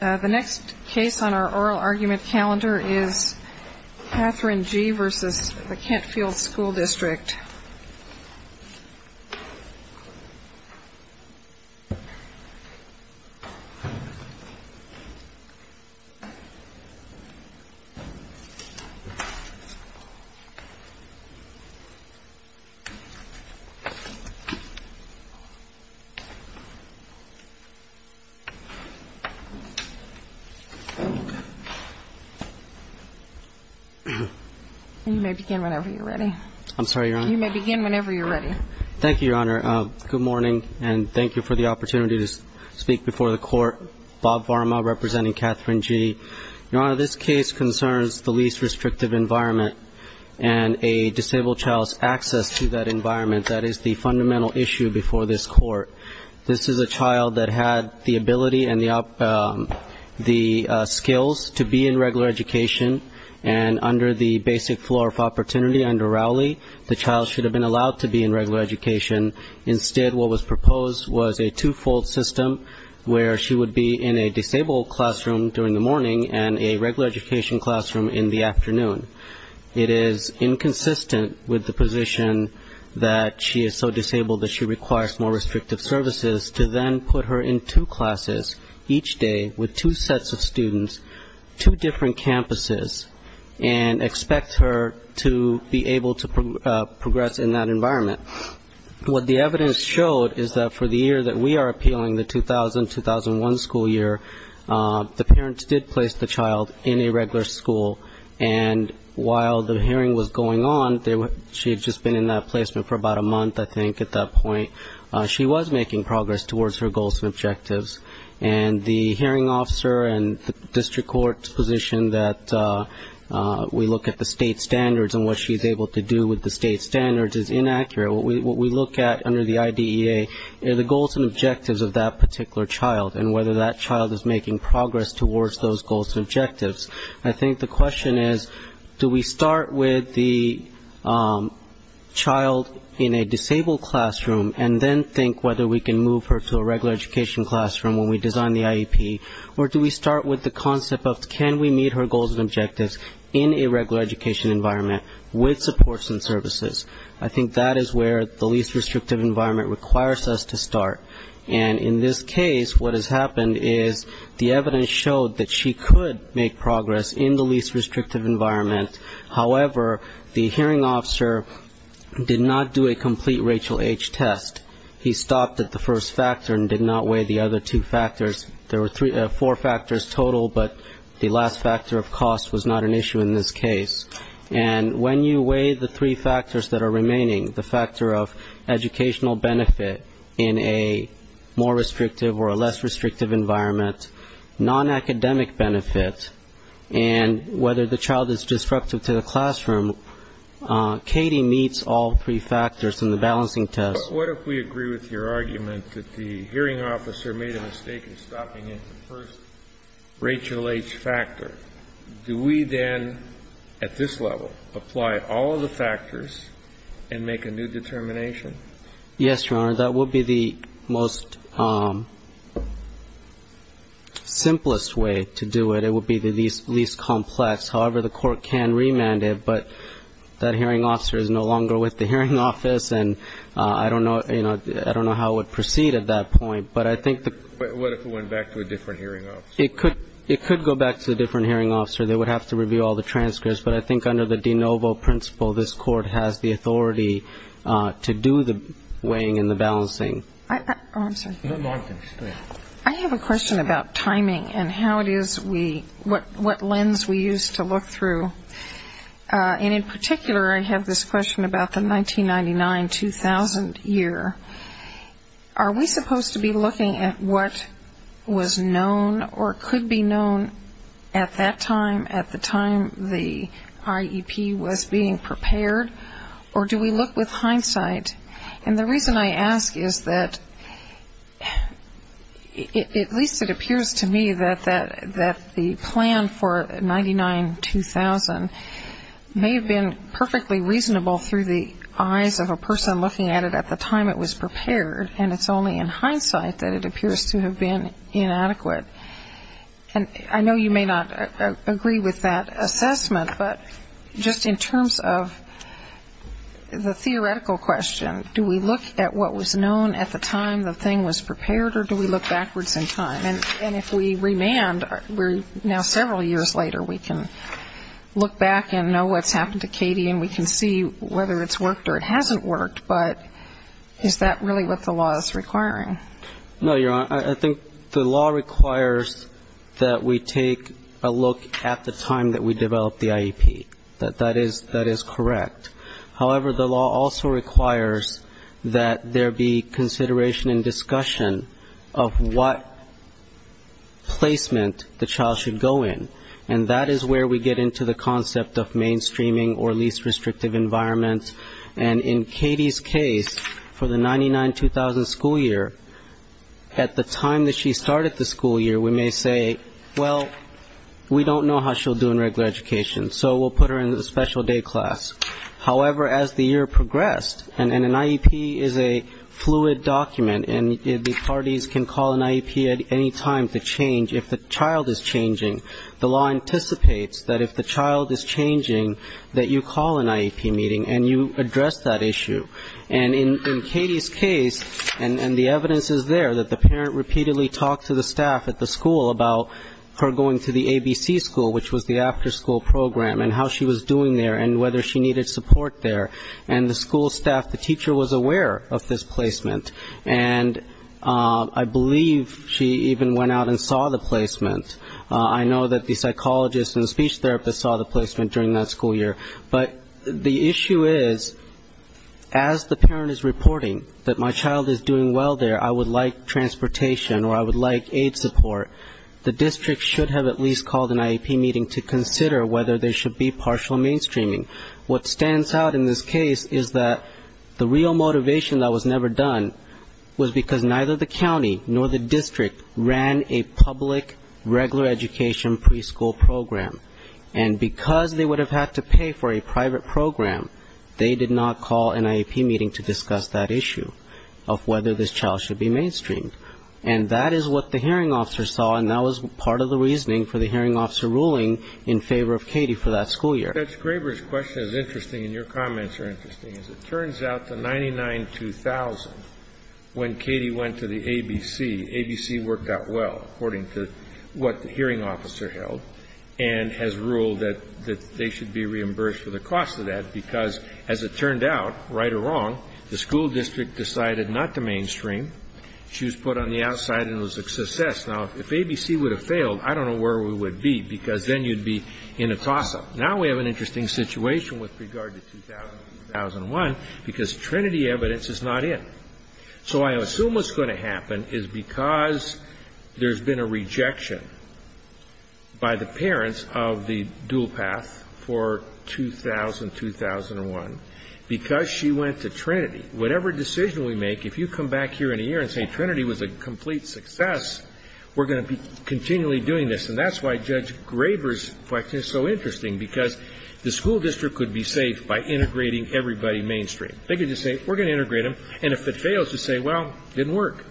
The next case on our oral argument calendar is Katherine G. v. Kentfield School District. You may begin whenever you're ready. I'm sorry, Your Honor? You may begin whenever you're ready. Thank you, Your Honor. Good morning, and thank you for the opportunity to speak before the Court. Bob Varma representing Katherine G. Your Honor, this case concerns the least restrictive environment and a disabled child's access to that environment. That is the fundamental issue before this Court. This is a child that had the ability and the skills to be in regular education, and under the basic floor of opportunity under Rowley, the child should have been allowed to be in regular education. Instead, what was proposed was a two-fold system where she would be in a disabled classroom during the morning and a regular education classroom in the afternoon. It is inconsistent with the position that she is so disabled that she requires more restrictive services to then put her in two classes each day with two sets of students, two different campuses, and expect her to be able to progress in that environment. What the evidence showed is that for the year that we are appealing, the 2000-2001 school year, the parents did place the child in a regular school. And while the hearing was going on, she had just been in that placement for about a month, I think, at that point. She was making progress towards her goals and objectives. And the hearing officer and the district court's position that we look at the state standards and what she's able to do with the state standards is inaccurate. What we look at under the IDEA are the goals and objectives of that particular child and whether that child is making progress towards those goals and objectives. I think the question is, do we start with the child in a disabled classroom and then think whether we can move her to a regular education classroom when we design the IEP? Or do we start with the concept of can we meet her goals and objectives in a regular education environment with supports and services? I think that is where the least restrictive environment requires us to start. And in this case, what has happened is the evidence showed that she could make progress in the least restrictive environment. However, the hearing officer did not do a complete Rachel H. test. He stopped at the first factor and did not weigh the other two factors. There were four factors total, but the last factor of cost was not an issue in this case. And when you weigh the three factors that are remaining, the factor of educational benefit in a more restrictive or a less restrictive environment, nonacademic benefit, and whether the child is disruptive to the classroom, Katie meets all three factors in the balancing test. But what if we agree with your argument that the hearing officer made a mistake in stopping at the first Rachel H. factor? Do we then, at this level, apply all of the factors and make a new determination? Yes, Your Honor. That would be the most simplest way to do it. It would be the least complex. However, the court can remand it, but that hearing officer is no longer with the hearing office, and I don't know how it would proceed at that point. But I think the ---- What if it went back to a different hearing officer? It could go back to a different hearing officer. They would have to review all the transcripts. But I think under the de novo principle, this court has the authority to do the weighing and the balancing. Oh, I'm sorry. I have a question about timing and how it is we ---- what lens we use to look through. And in particular, I have this question about the 1999-2000 year. Are we supposed to be looking at what was known or could be known at that time, at the time the IEP was being prepared, or do we look with hindsight? And the reason I ask is that at least it appears to me that the plan for 99-2000 may have been perfectly reasonable through the eyes of a person looking at it at the time it was prepared, and it's only in hindsight that it appears to have been inadequate. And I know you may not agree with that assessment, but just in terms of the theoretical question, do we look at what was known at the time the thing was prepared or do we look backwards in time? And if we remand, we're now several years later, we can look back and know what's happened to Katie and we can see whether it's worked or it hasn't worked, but is that really what the law is requiring? No, Your Honor. I think the law requires that we take a look at the time that we developed the IEP. That is correct. However, the law also requires that there be consideration and discussion of what placement the child should go in, and that is where we get into the concept of mainstreaming or least restrictive environments. And in Katie's case, for the 99-2000 school year, at the time that she started the school year, we may say, well, we don't know how she'll do in regular education, so we'll put her in the special day class. However, as the year progressed, and an IEP is a fluid document, and the parties can call an IEP at any time to change if the child is changing, the law anticipates that if the child is changing, that you call an IEP meeting and you address that issue. And in Katie's case, and the evidence is there, that the parent repeatedly talked to the staff at the school about her going to the ABC school, which was the after-school program, and how she was doing there and whether she needed support there. And the school staff, the teacher was aware of this placement, and I believe she even went out and saw the placement. I know that the psychologist and the speech therapist saw the placement during that school year. But the issue is, as the parent is reporting that my child is doing well there, I would like transportation or I would like aid support, the district should have at least called an IEP meeting to consider whether there should be partial mainstreaming. What stands out in this case is that the real motivation that was never done was because neither the county nor the district ran a public regular education preschool program. And because they would have had to pay for a private program, they did not call an IEP meeting to discuss that issue of whether this child should be mainstreamed. And that is what the hearing officer saw, and that was part of the reasoning for the hearing officer ruling in favor of Katie for that school year. Kennedy. Judge Graber's question is interesting, and your comments are interesting. As it turns out, the 99-2000, when Katie went to the ABC, ABC worked out well, according to what the hearing officer held, and has ruled that they should be reimbursed for the cost of that, because as it turned out, right or wrong, the school district decided not to mainstream. She was put on the outside, and it was a success. Now, if ABC would have failed, I don't know where we would be, because then you would be in a toss-up. Now we have an interesting situation with regard to 2000 and 2001, because Trinity evidence is not in. So I assume what's going to happen is because there's been a rejection by the parents of the dual path for 2000, 2001, because she went to Trinity, whatever decision we make, if you come back here in a year and say Trinity was a complete success, we're going to be continually doing this. And that's why Judge Graber's question is so interesting, because the school district could be saved by integrating everybody mainstream. They could just say, we're going to integrate them, and if it fails, just say, well, it didn't work.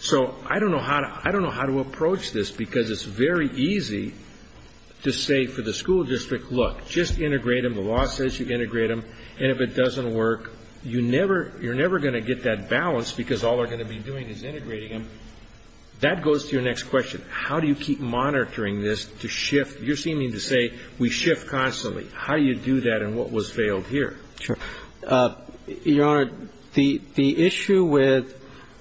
So I don't know how to approach this, because it's very easy to say for the school district, look, just integrate them, the law says you integrate them, and if it doesn't work, you're never going to get that balance, because all they're going to be doing is integrating them. That goes to your next question. How do you keep monitoring this to shift? You're seeming to say we shift constantly. How do you do that, and what was failed here? Your Honor, the issue with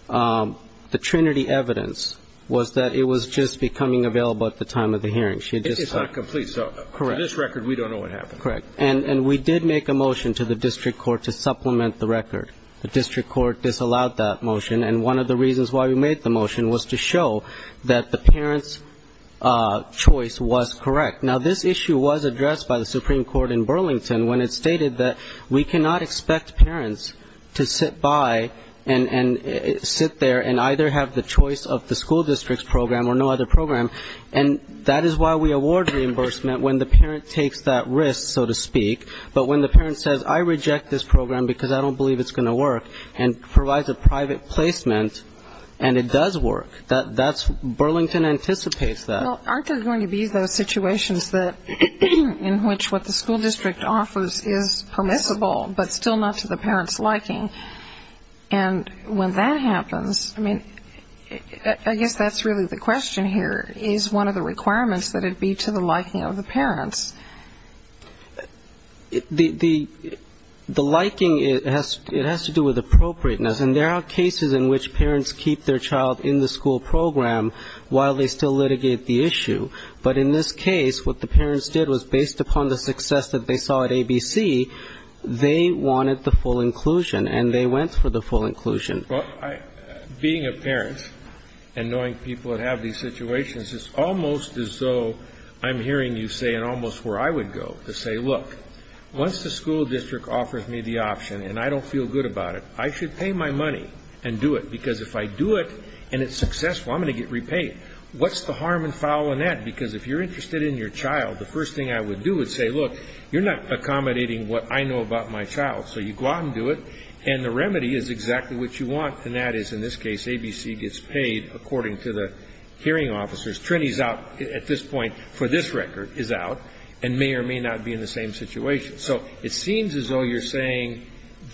the Trinity evidence was that it was just becoming available at the time of the hearing. It's not complete. So for this record, we don't know what happened. Correct. And we did make a motion to the district court to supplement the record. The district court disallowed that motion, and one of the reasons why we made the motion was to show that it was correct. Now, this issue was addressed by the Supreme Court in Burlington when it stated that we cannot expect parents to sit by and sit there and either have the choice of the school district's program or no other program, and that is why we award reimbursement when the parent takes that risk, so to speak. But when the parent says, I reject this program because I don't believe it's going to work, and provides a private placement, and it does work, that's Burlington anticipates that. Well, aren't there going to be those situations in which what the school district offers is permissible, but still not to the parent's liking? And when that happens, I mean, I guess that's really the question here. Is one of the requirements that it be to the liking of the parents? The liking, it has to do with appropriateness, and there are cases in which parents keep their child in the school program while they still litigate the issue. But in this case, what the parents did was based upon the success that they saw at ABC, they wanted the full inclusion, and they went for the full inclusion. Well, being a parent and knowing people that have these situations, it's almost as though I'm hearing you say and almost where I would go to say, look, once the school district offers me the option and I don't feel good about it, I should pay my money and do it, because if I do it and it's successful, I'm going to get repaid. What's the harm and foul in that? Because if you're interested in your child, the first thing I would do is say, look, you're not accommodating what I know about my child, so you go out and do it, and the remedy is exactly what you want, and that is, in this case, ABC gets paid according to the hearing officers. Trini's out at this point for this record, is out, and may or may not be in the same situation. So it seems as though you're saying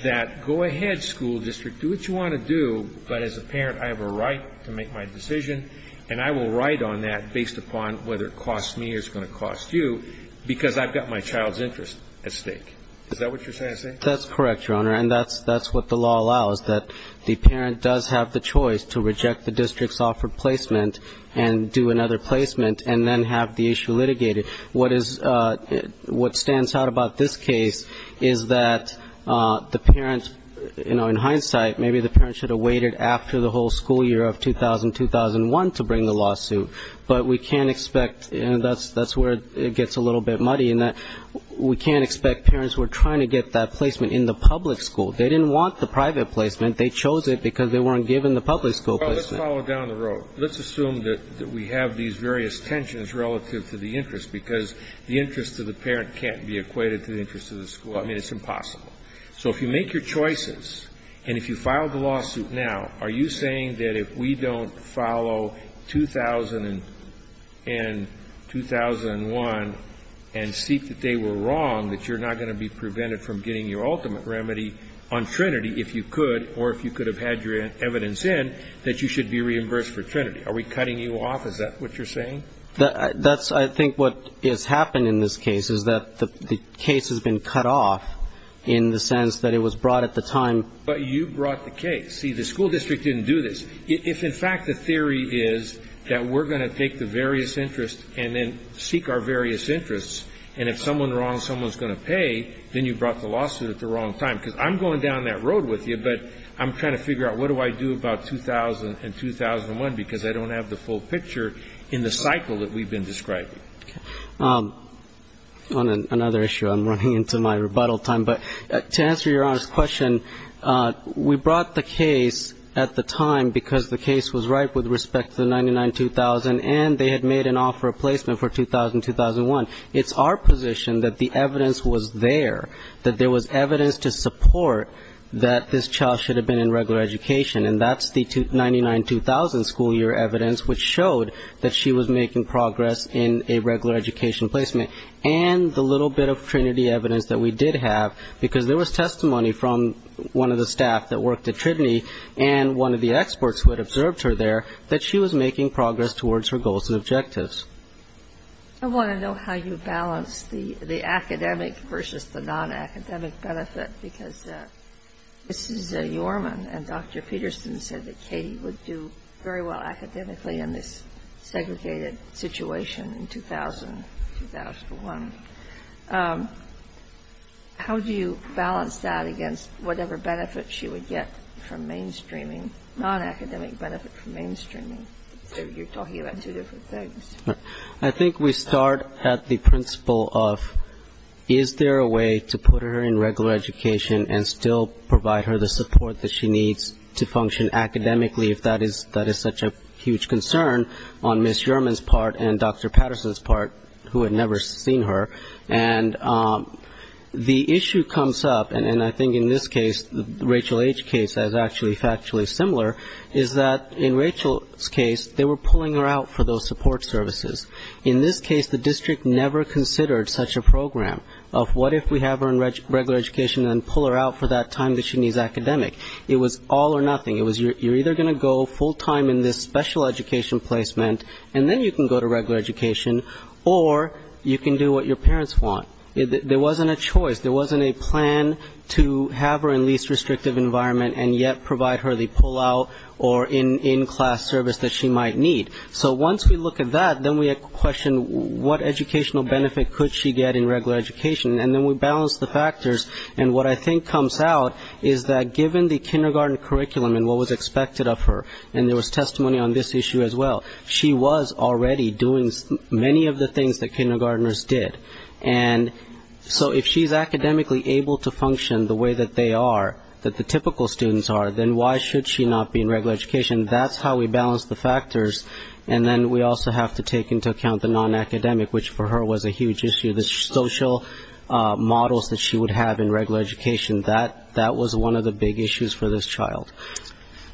that go ahead, school district, do what you want to do, but as a parent, I have a right to make my decision, and I will write on that based upon whether it costs me or it's going to cost you, because I've got my child's interest at stake. Is that what you're saying? That's correct, Your Honor, and that's what the law allows, that the parent does have the choice to reject the district's offered placement and do another placement and then have the issue litigated. What is, what stands out about this case is that the parent, you know, in hindsight, maybe the parent should have waited after the whole school year of 2000, 2001 to bring the lawsuit, but we can't expect, and that's where it gets a little bit muddy, in that we can't expect parents who are trying to get that placement in the public school. They didn't want the private placement. They chose it because they weren't given the public school placement. Well, let's follow down the road. Let's assume that we have these various tensions relative to the interest, because the interest of the parent can't be equated to the interest of the school. I mean, it's impossible. So if you make your choices and if you file the lawsuit now, are you saying that if we don't follow 2000 and 2001 and seek that they were wrong, that you're not going to be prevented from getting your ultimate remedy on Trinity if you could, or if you could have had your evidence in, that you should be reimbursed for Trinity? Are we cutting you off? Is that what you're saying? That's, I think what has happened in this case is that the case has been cut off in the sense that it was brought at the time. But you brought the case. See, the school district didn't do this. If, in fact, the theory is that we're going to take the various interests and then seek our various interests, and if someone's wrong, someone's going to pay, then you brought the lawsuit at the wrong time. Because I'm going down that road with you, but I'm trying to figure out what do I do about 2000 and 2001, because I don't have the full picture in the cycle that we've been describing. On another issue, I'm running into my rebuttal time, but to answer Your Honor's question, we brought the case at the time because the case was ripe with respect to the 99-2000, and they had made an offer of placement for 2000-2001. It's our position that the evidence was there, that there was evidence to support that this child should have been in regular education. And that's the 99-2000 school year evidence, which showed that she was making progress in a regular education placement. And the little bit of Trinity evidence that we did have, because there was testimony from one of the staff that worked at Trinity, and one of the experts who had observed her there, that she was making progress towards her goals and objectives. I want to know how you balance the academic versus the non-academic benefit, because Mrs. Yorman and Dr. Peterson said that Katie would do very well academically in this segregated situation in 2000-2001. How do you balance that against whatever benefit she would get from mainstreaming, non-academic benefit from mainstreaming? You're talking about two different things. I think we start at the principle of is there a way to put her in regular education and still provide her the support that she needs to function academically, if that is such a huge concern on Ms. Yorman's part and Dr. Peterson's part, who had never seen her. And the issue comes up, and I think in this case, the Rachel H. case is actually factually similar, is that in Rachel's case, they were pulling her out for those support services. In this case, the district never considered such a program of what if we have her in regular education and pull her out for that time that she needs academic. It was all or nothing, you're either going to go full-time in this special education placement, and then you can go to regular education, or you can do what your parents want. There wasn't a choice, there wasn't a plan to have her in least restrictive environment and yet provide her the pull-out or in-class service that she might need. So once we look at that, then we question what educational benefit could she get in regular education, and then we balance the factors, and what I think comes out is that given the kindergarten curriculum and what was expected of her, and there was testimony on this issue as well, she was already doing many of the things that kindergartners did. And so if she's academically able to function the way that they are, that the typical students are, then why should she not be in regular education? That's how we balance the factors, and then we also have to take into account the non-academic, which for her was a huge issue, the social models that she would have in regular education. That was one of the big issues for this child.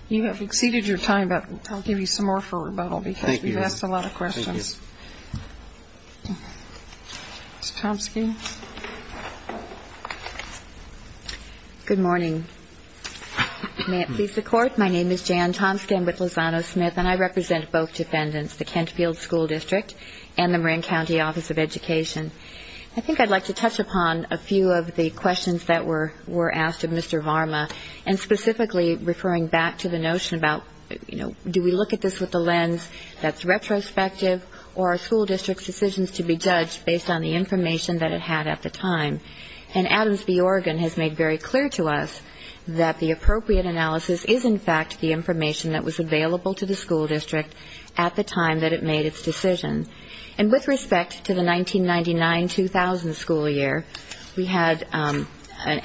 You have exceeded your time, but I'll give you some more for rebuttal, because you've asked a lot of questions. Ms. Tomski. Good morning. May it please the Court, my name is Jan Tomski, I'm with Lozano-Smith, and I represent both defendants, the Kent Field School District and the Marin County Office of Education. I think I'd like to touch upon a few of the questions that were asked of Mr. Varma, and specifically referring back to the notion about, you know, do we look at this with a lens that's retrospective, or are school districts' decisions to be judged based on the information that it had at the time? And Adams v. Oregon has made very clear to us that the appropriate analysis is, in fact, the information that was available to the school district at the time that it made its decision. And with respect to the 1999-2000 school year, we had an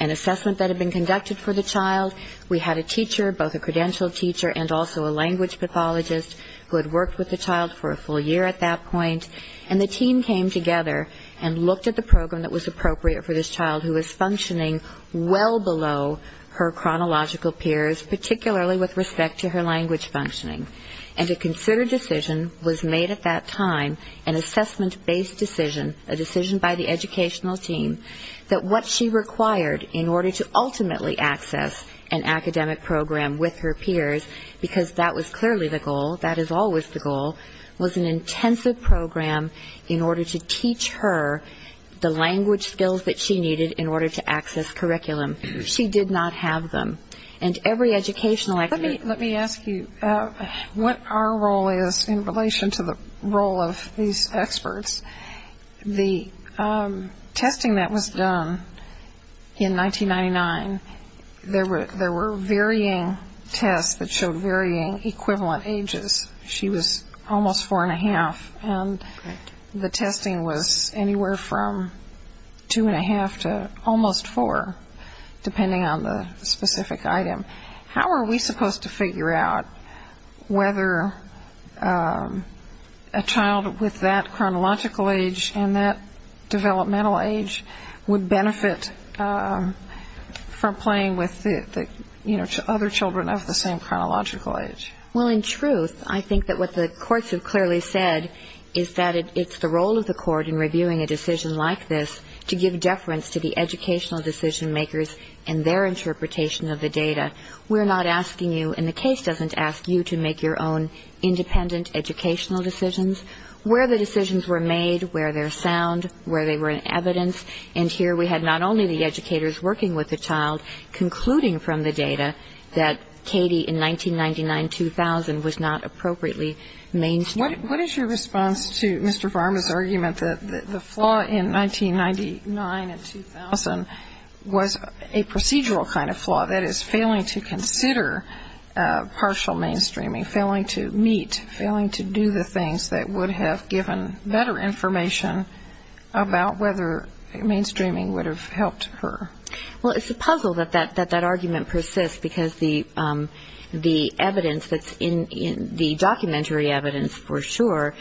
assessment that had been conducted for the child, we had a teacher, both a credentialed teacher and also a language pathologist, who had worked with the child for a full year at that point, and the team came together and looked at the program that was appropriate for this child who was functioning well below her chronological peers, particularly with respect to her language functioning. And a considered decision was made at that time, an assessment-based decision, a decision by the educational team, that what she required in order to ultimately access an academic program with her peers, because that was clearly the goal, that is always the goal, was an intensive program in order to teach her the language skills that she needed in order to access curriculum. She did not have them. And every educational academic... Let me ask you what our role is in relation to the role of these experts. The testing that was done in 1999, there were varying tests that showed varying equivalent ages. She was almost 4 1⁄2, and the testing was anywhere from 2 1⁄2 to almost 4. Depending on the specific item. How are we supposed to figure out whether a child with that chronological age and that developmental age would benefit from playing with other children of the same chronological age? Well, in truth, I think that what the courts have clearly said is that it's the role of the court in reviewing a decision like this to give deference to the educational decision-makers and their interpretation of the data. We're not asking you, and the case doesn't ask you, to make your own independent educational decisions. Where the decisions were made, where they're sound, where they were in evidence, and here we had not only the educators working with the child concluding from the data that Katie in 1999-2000 was not appropriately mainstream. What is your response to Mr. Varma's argument that the flaw in 1999 and 2000 was a procedural kind of flaw, that is, failing to consider partial mainstreaming, failing to meet, failing to do the things that would have given better information about whether mainstreaming would have helped her? Well, it's a puzzle that that argument persists, because the evidence that's in the documentary evidence for the case for sure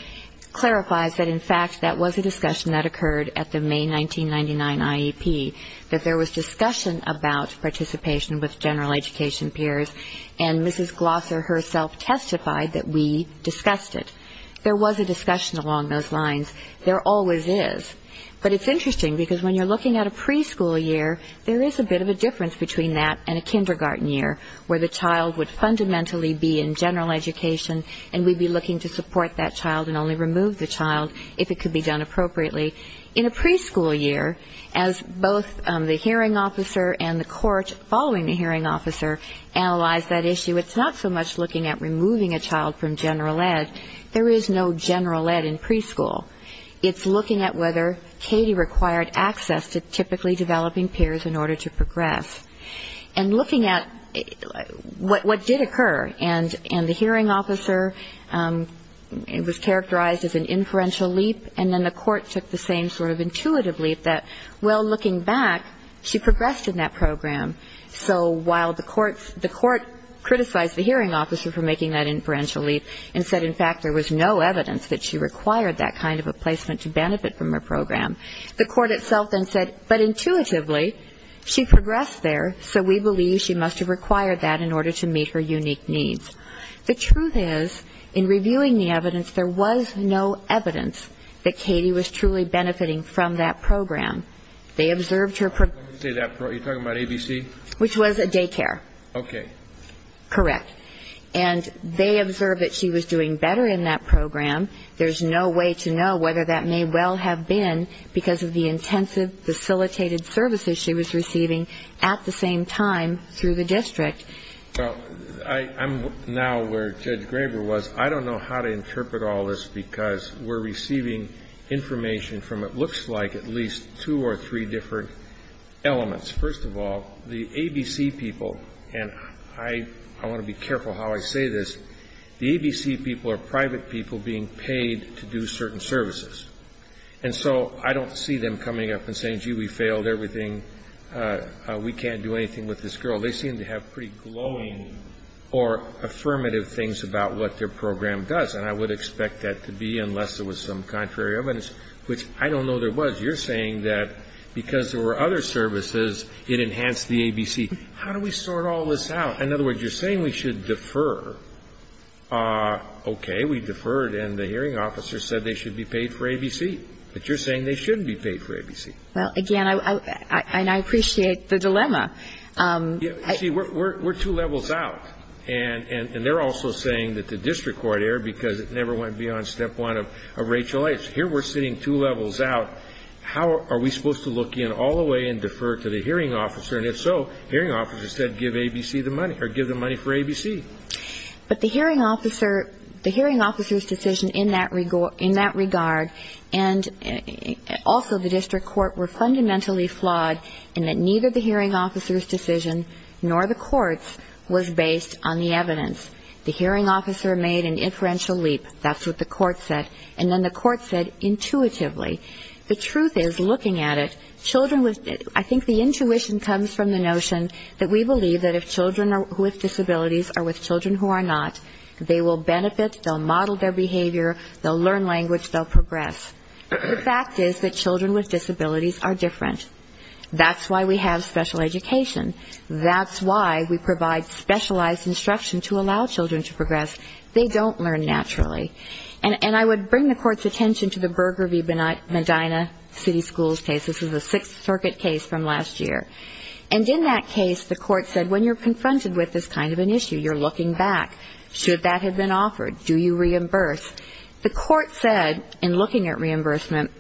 clarifies that, in fact, that was a discussion that occurred at the May 1999 IEP, that there was discussion about participation with general education peers, and Mrs. Glosser herself testified that we discussed it. There was a discussion along those lines. There always is. But it's interesting, because when you're looking at a preschool year, there is a bit of a difference between that and a kindergarten year, where the child would fundamentally be in general education, and we'd be looking to support that child and only remove the child if it could be done appropriately. In a preschool year, as both the hearing officer and the court following the hearing officer analyzed that issue, it's not so much looking at removing a child from general ed, there is no general ed in preschool. It's looking at whether Katie required access to typically developing peers in order to progress. And looking at what did occur, and the hearing officer was characterized as an inferential leap, and then the court took the same sort of intuitive leap that, well, looking back, she progressed in that program. So while the court criticized the hearing officer for making that inferential leap and said, in fact, there was no evidence that she required that kind of a placement to benefit from her program, the court itself then said, but intuitively, she progressed there, so we believe she must have required that in order to meet her unique needs. The truth is, in reviewing the evidence, there was no evidence that Katie was truly benefiting from that program. They observed her ______. You're talking about ABC? Which was a daycare. Okay. Correct. And they observed that she was doing better in that program. There's no way to know whether that may well have been because of the intensive facilitated services she was receiving at the same time through the district. Well, I'm now where Judge Graber was. I don't know how to interpret all this, because we're receiving information from what looks like at least two or three different elements. First of all, the ABC people, and I want to be careful how I say this, the ABC people are private people being paid to do certain services. And so I don't see them coming up and saying, gee, we failed everything. We can't do anything with this girl. They seem to have pretty glowing or affirmative things about what their program does, and I would expect that to be unless there was some contrary evidence, which I don't know there was. You're saying that because there were other services, it enhanced the ABC. How do we sort all this out? In other words, you're saying we should defer. Okay, we deferred, and the hearing officer said they should be paid for ABC. But you're saying they shouldn't be paid for ABC. Well, again, and I appreciate the dilemma. See, we're two levels out, and they're also saying that the district court erred because it never went beyond step one of Rachel Ayes. Here we're sitting two levels out. How are we supposed to look in all the way and defer to the hearing officer? And if so, hearing officer said give ABC the money or give the money for ABC. But the hearing officer's decision in that regard and also the district court were fundamentally flawed in that neither the hearing officer's decision nor the court's was based on the evidence. The hearing officer made an inferential leap. That's what the court said. And then the court said intuitively. The truth is, looking at it, children was ñ I think the intuition comes from the notion that we believe that if children with disabilities are with children who are not, they will benefit, they'll model their behavior, they'll learn language, they'll progress. The fact is that children with disabilities are different. That's why we have special education. That's why we provide specialized instruction to allow children to progress. They don't learn naturally. And I would bring the court's attention to the Berger v. Medina city schools case. This is a Sixth Circuit case from last year. And in that case, the court said when you're confronted with this kind of an issue, you're looking back. Should that have been offered? Do you reimburse? The court said in looking at reimbursement,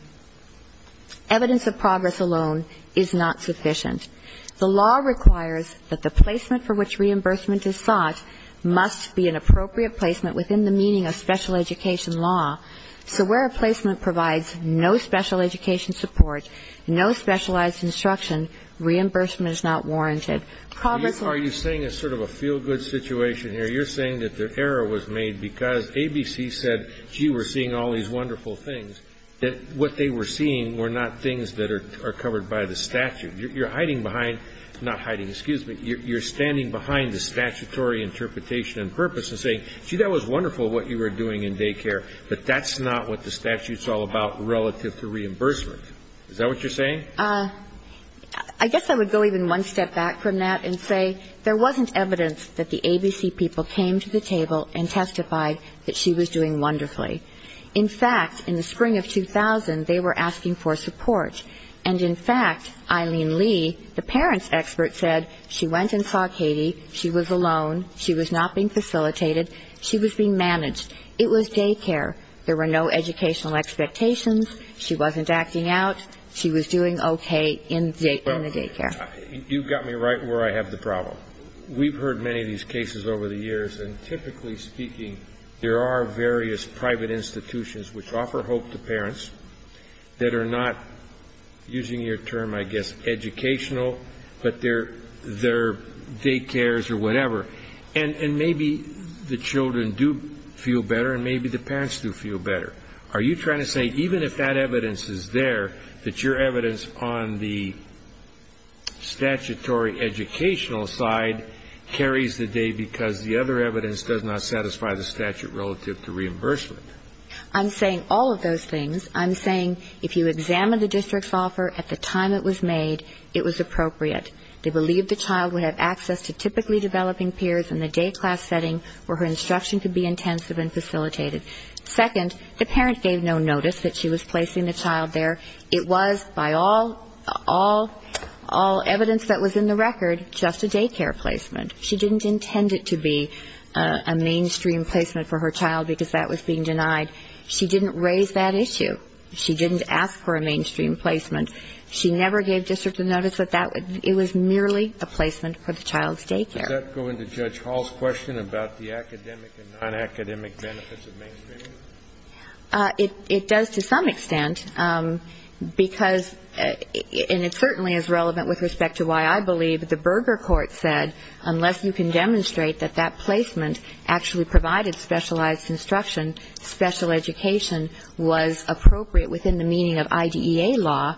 evidence of progress alone is not sufficient. The law requires that the placement for which reimbursement is sought must be an appropriate placement within the meaning of special education law. So where a placement provides no special education support, no specialized instruction, reimbursement is not warranted. Are you saying it's sort of a feel-good situation here? You're saying that the error was made because ABC said, gee, we're seeing all these wonderful things. What they were seeing were not things that are covered by the statute. You're hiding behind ñ not hiding, excuse me. You're standing behind the statutory interpretation and purpose and saying, gee, that was wonderful what you were doing in daycare, but that's not what the statute's all about relative to reimbursement. Is that what you're saying? I guess I would go even one step back from that and say there wasn't evidence that the ABC people came to the table and testified that she was doing wonderfully. In fact, in the spring of 2000, they were asking for support. And in fact, Eileen Lee, the parents' expert, said she went and saw Katie. She was alone. She was not being facilitated. She was being managed. It was daycare. There were no educational expectations. She wasn't acting out. She was doing okay in the daycare. You've got me right where I have the problem. We've heard many of these cases over the years, and typically speaking, there are various private institutions which offer hope to parents that are not, using your term, I guess, educational, but they're daycares or whatever. And maybe the children do feel better and maybe the parents do feel better. Are you trying to say even if that evidence is there, that your evidence on the statutory educational side carries the day because the other evidence does not satisfy the statute relative to reimbursement? I'm saying all of those things. I'm saying if you examine the district's offer at the time it was made, it was appropriate. They believed the child would have access to typically developing peers in the day class setting where her instruction could be intensive and facilitated. Second, the parent gave no notice that she was placing the child there. It was, by all evidence that was in the record, just a daycare placement. She didn't intend it to be a mainstream placement for her child because that was being denied. She didn't raise that issue. She didn't ask for a mainstream placement. She never gave districts a notice that it was merely a placement for the child's daycare. Does that go into Judge Hall's question about the academic and nonacademic benefits of mainstreaming? It does to some extent because, and it certainly is relevant with respect to why I believe the Berger court said unless you can demonstrate that that placement actually provided specialized instruction, special education was appropriate within the meaning of IDEA law,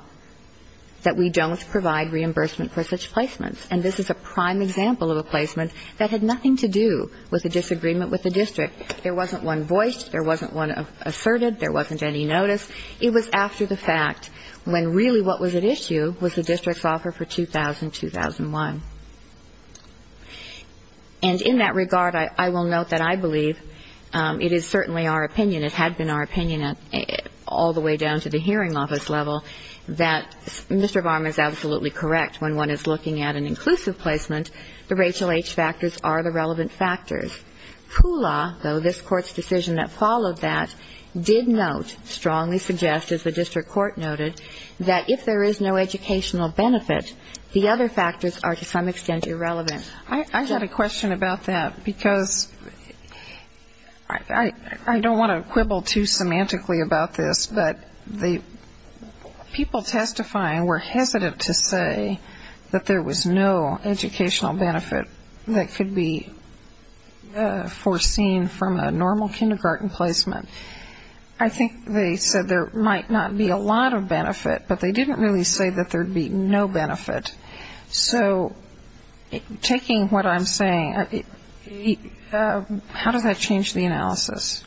that we don't provide reimbursement for such placements. And this is a prime example of a placement that had nothing to do with a disagreement with the district. There wasn't one voiced. There wasn't one asserted. There wasn't any notice. It was after the fact when really what was at issue was the district's offer for 2000-2001. And in that regard, I will note that I believe it is certainly our opinion. It had been our opinion all the way down to the hearing office level that Mr. Varma is absolutely correct when one is looking at an inclusive placement. The Rachel H. factors are the relevant factors. Kula, though this Court's decision that followed that, did note, strongly suggest, as the district court noted, that if there is no educational benefit, the other factors are to some extent irrelevant. I had a question about that, because I don't want to quibble too semantically about this, but the people testifying were hesitant to say that there was no educational benefit that could be foreseen from a normal kindergarten placement. I think they said there might not be a lot of benefit, but they didn't really say that there would be no benefit. So taking what I'm saying, how does that change the analysis?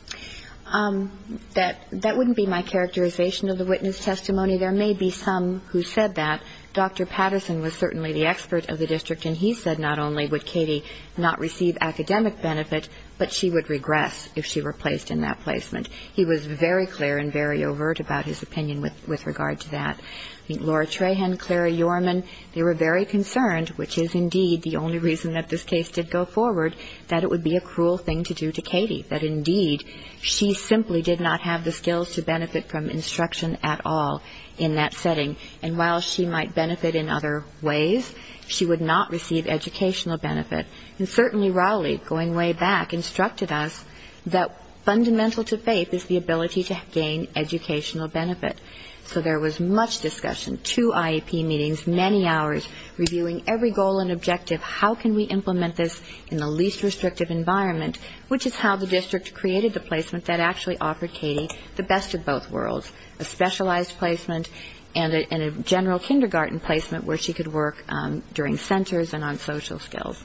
That wouldn't be my characterization of the witness testimony. There may be some who said that. Dr. Patterson was certainly the expert of the district, and he said not only would Katie not receive academic benefit, but she would regress if she were placed in that placement. He was very clear and very overt about his opinion with regard to that. Laura Trahan, Clara Yorman, they were very concerned, which is indeed the only reason that this case did go forward, that it would be a cruel thing to do to Katie, that, indeed, she simply did not have the skills to benefit from instruction at all in that setting. And while she might benefit in other ways, she would not receive educational benefit. And certainly Rowley, going way back, instructed us that fundamental to faith is the ability to gain educational benefit. So there was much discussion, two IEP meetings, many hours, reviewing every goal and objective, how can we implement this in the least restrictive environment, which is how the district created the placement that actually offered Katie the best of both worlds, a specialized placement and a general kindergarten placement where she could work during centers and on social skills.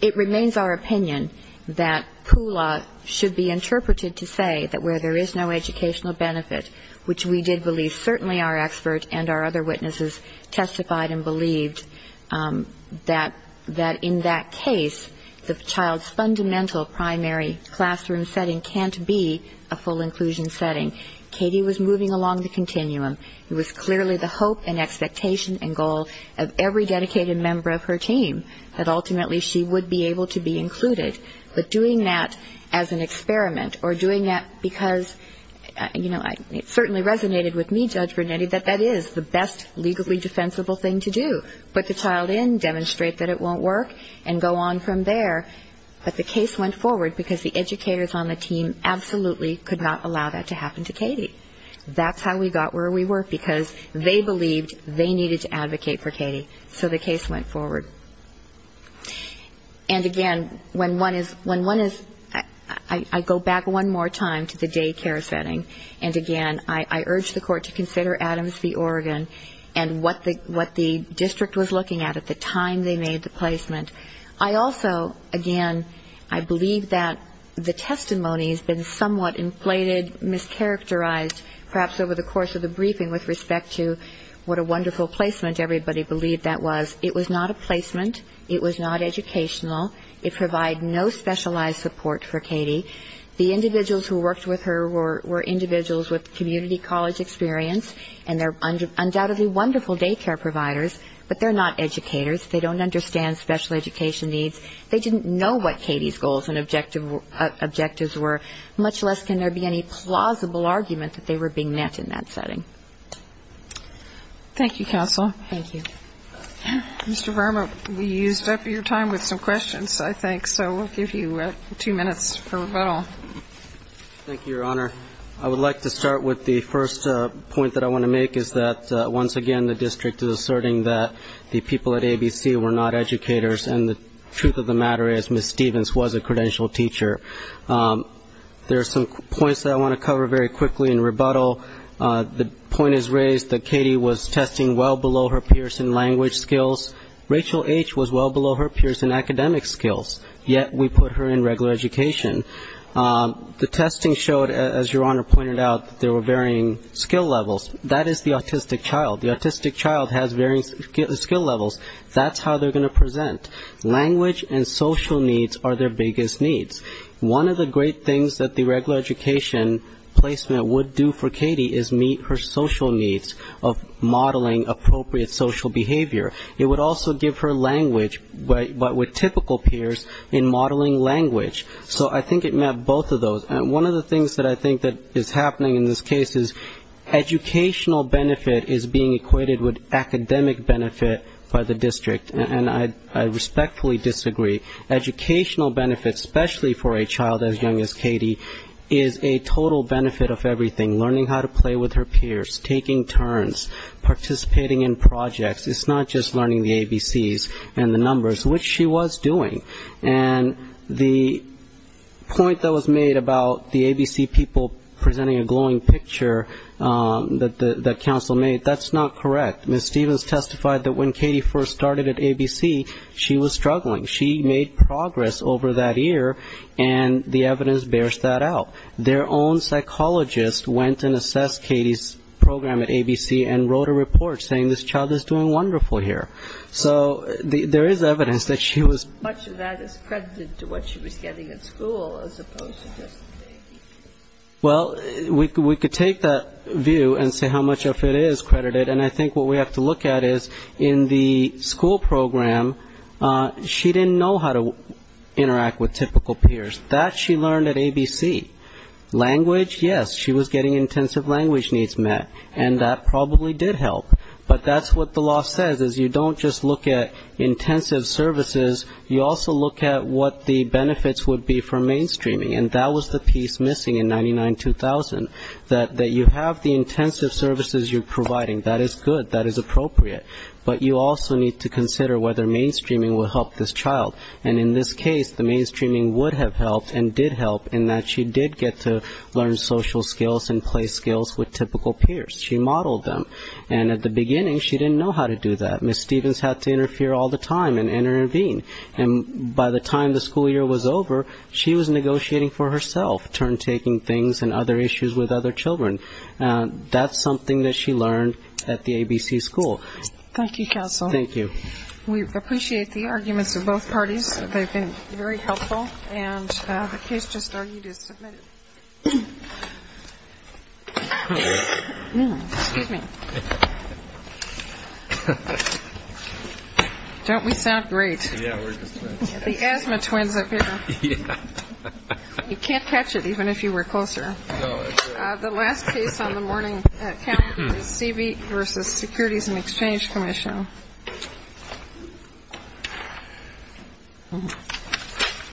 It remains our opinion that POOLA should be interpreted to say that where there is no educational benefit, which we did believe, certainly our expert and our other witnesses testified and believed, that in that case the child's fundamental primary classroom setting can't be a full inclusion setting. Katie was moving along the continuum. It was clearly the hope and expectation and goal of every dedicated member of her team that ultimately she would be able to be included. But doing that as an experiment or doing that because, you know, it certainly resonated with me, Judge Vernetti, that that is the best legally defensible thing to do, put the child in, demonstrate that it won't work, and go on from there. But the case went forward because the educators on the team absolutely could not allow that to happen to Katie. That's how we got where we were, because they believed they needed to advocate for Katie. So the case went forward. And, again, when one is, I go back one more time to the daycare setting, and, again, I urge the court to consider Adams v. Oregon and what the district was looking at at the time they made the placement. I also, again, I believe that the testimony has been somewhat inflated, mischaracterized, perhaps over the course of the briefing with respect to what a wonderful placement everybody believed that was. It was not a placement. It was not educational. It provided no specialized support for Katie. The individuals who worked with her were individuals with community college experience, and they're undoubtedly wonderful daycare providers, but they're not educators. They don't understand special education needs. They didn't know what Katie's goals and objectives were, much less can there be any plausible argument that they were being met in that setting. Thank you, counsel. Thank you. Mr. Verma, we used up your time with some questions, I think, so we'll give you two minutes for rebuttal. Thank you, Your Honor. I would like to start with the first point that I want to make is that, once again, the district is asserting that the people at ABC were not educators, and the truth of the matter is Ms. Stevens was a credentialed teacher. There are some points that I want to cover very quickly in rebuttal. The point is raised that Katie was testing well below her Pearson language skills. Rachel H. was well below her Pearson academic skills, yet we put her in regular education. The testing showed, as Your Honor pointed out, there were varying skill levels. That is the autistic child. The autistic child has varying skill levels. That's how they're going to present. Language and social needs are their biggest needs. One of the great things that the regular education placement would do for Katie is meet her social needs of modeling appropriate social behavior. It would also give her language, but with typical peers, in modeling language. So I think it met both of those. One of the things that I think is happening in this case is educational benefit is being equated with academic benefit by the district, and I respectfully disagree. Educational benefit, especially for a child as young as Katie, is a total benefit of everything, learning how to play with her peers, taking turns, participating in projects. It's not just learning the ABCs and the numbers, which she was doing. And the point that was made about the ABC people presenting a glowing picture that counsel made, that's not correct. Ms. Stevens testified that when Katie first started at ABC, she was struggling. She made progress over that year, and the evidence bears that out. Their own psychologist went and assessed Katie's program at ABC and wrote a report saying, this child is doing wonderful here. So there is evidence that she was. Much of that is credited to what she was getting at school as opposed to just the ABC. Well, we could take that view and say how much of it is credited, and I think what we have to look at is in the school program, she didn't know how to interact with typical peers. That she learned at ABC. Language, yes, she was getting intensive language needs met, and that probably did help. But that's what the law says, is you don't just look at intensive services, you also look at what the benefits would be for mainstreaming. And that was the piece missing in 99-2000, that you have the intensive services you're providing. That is good, that is appropriate. But you also need to consider whether mainstreaming will help this child. And in this case, the mainstreaming would have helped and did help in that she did get to learn social skills and play skills with typical peers. She modeled them. And at the beginning, she didn't know how to do that. Ms. Stevens had to interfere all the time and intervene. And by the time the school year was over, she was negotiating for herself, turn-taking things and other issues with other children. That's something that she learned at the ABC school. Thank you, counsel. Thank you. We appreciate the arguments of both parties. They've been very helpful. And the case just argued is submitted. Excuse me. Don't we sound great? Yeah, we're just twins. The asthma twins up here. Yeah. You can't catch it even if you were closer. No, that's true. The last case on the morning count is CB versus Securities and Exchange Commission.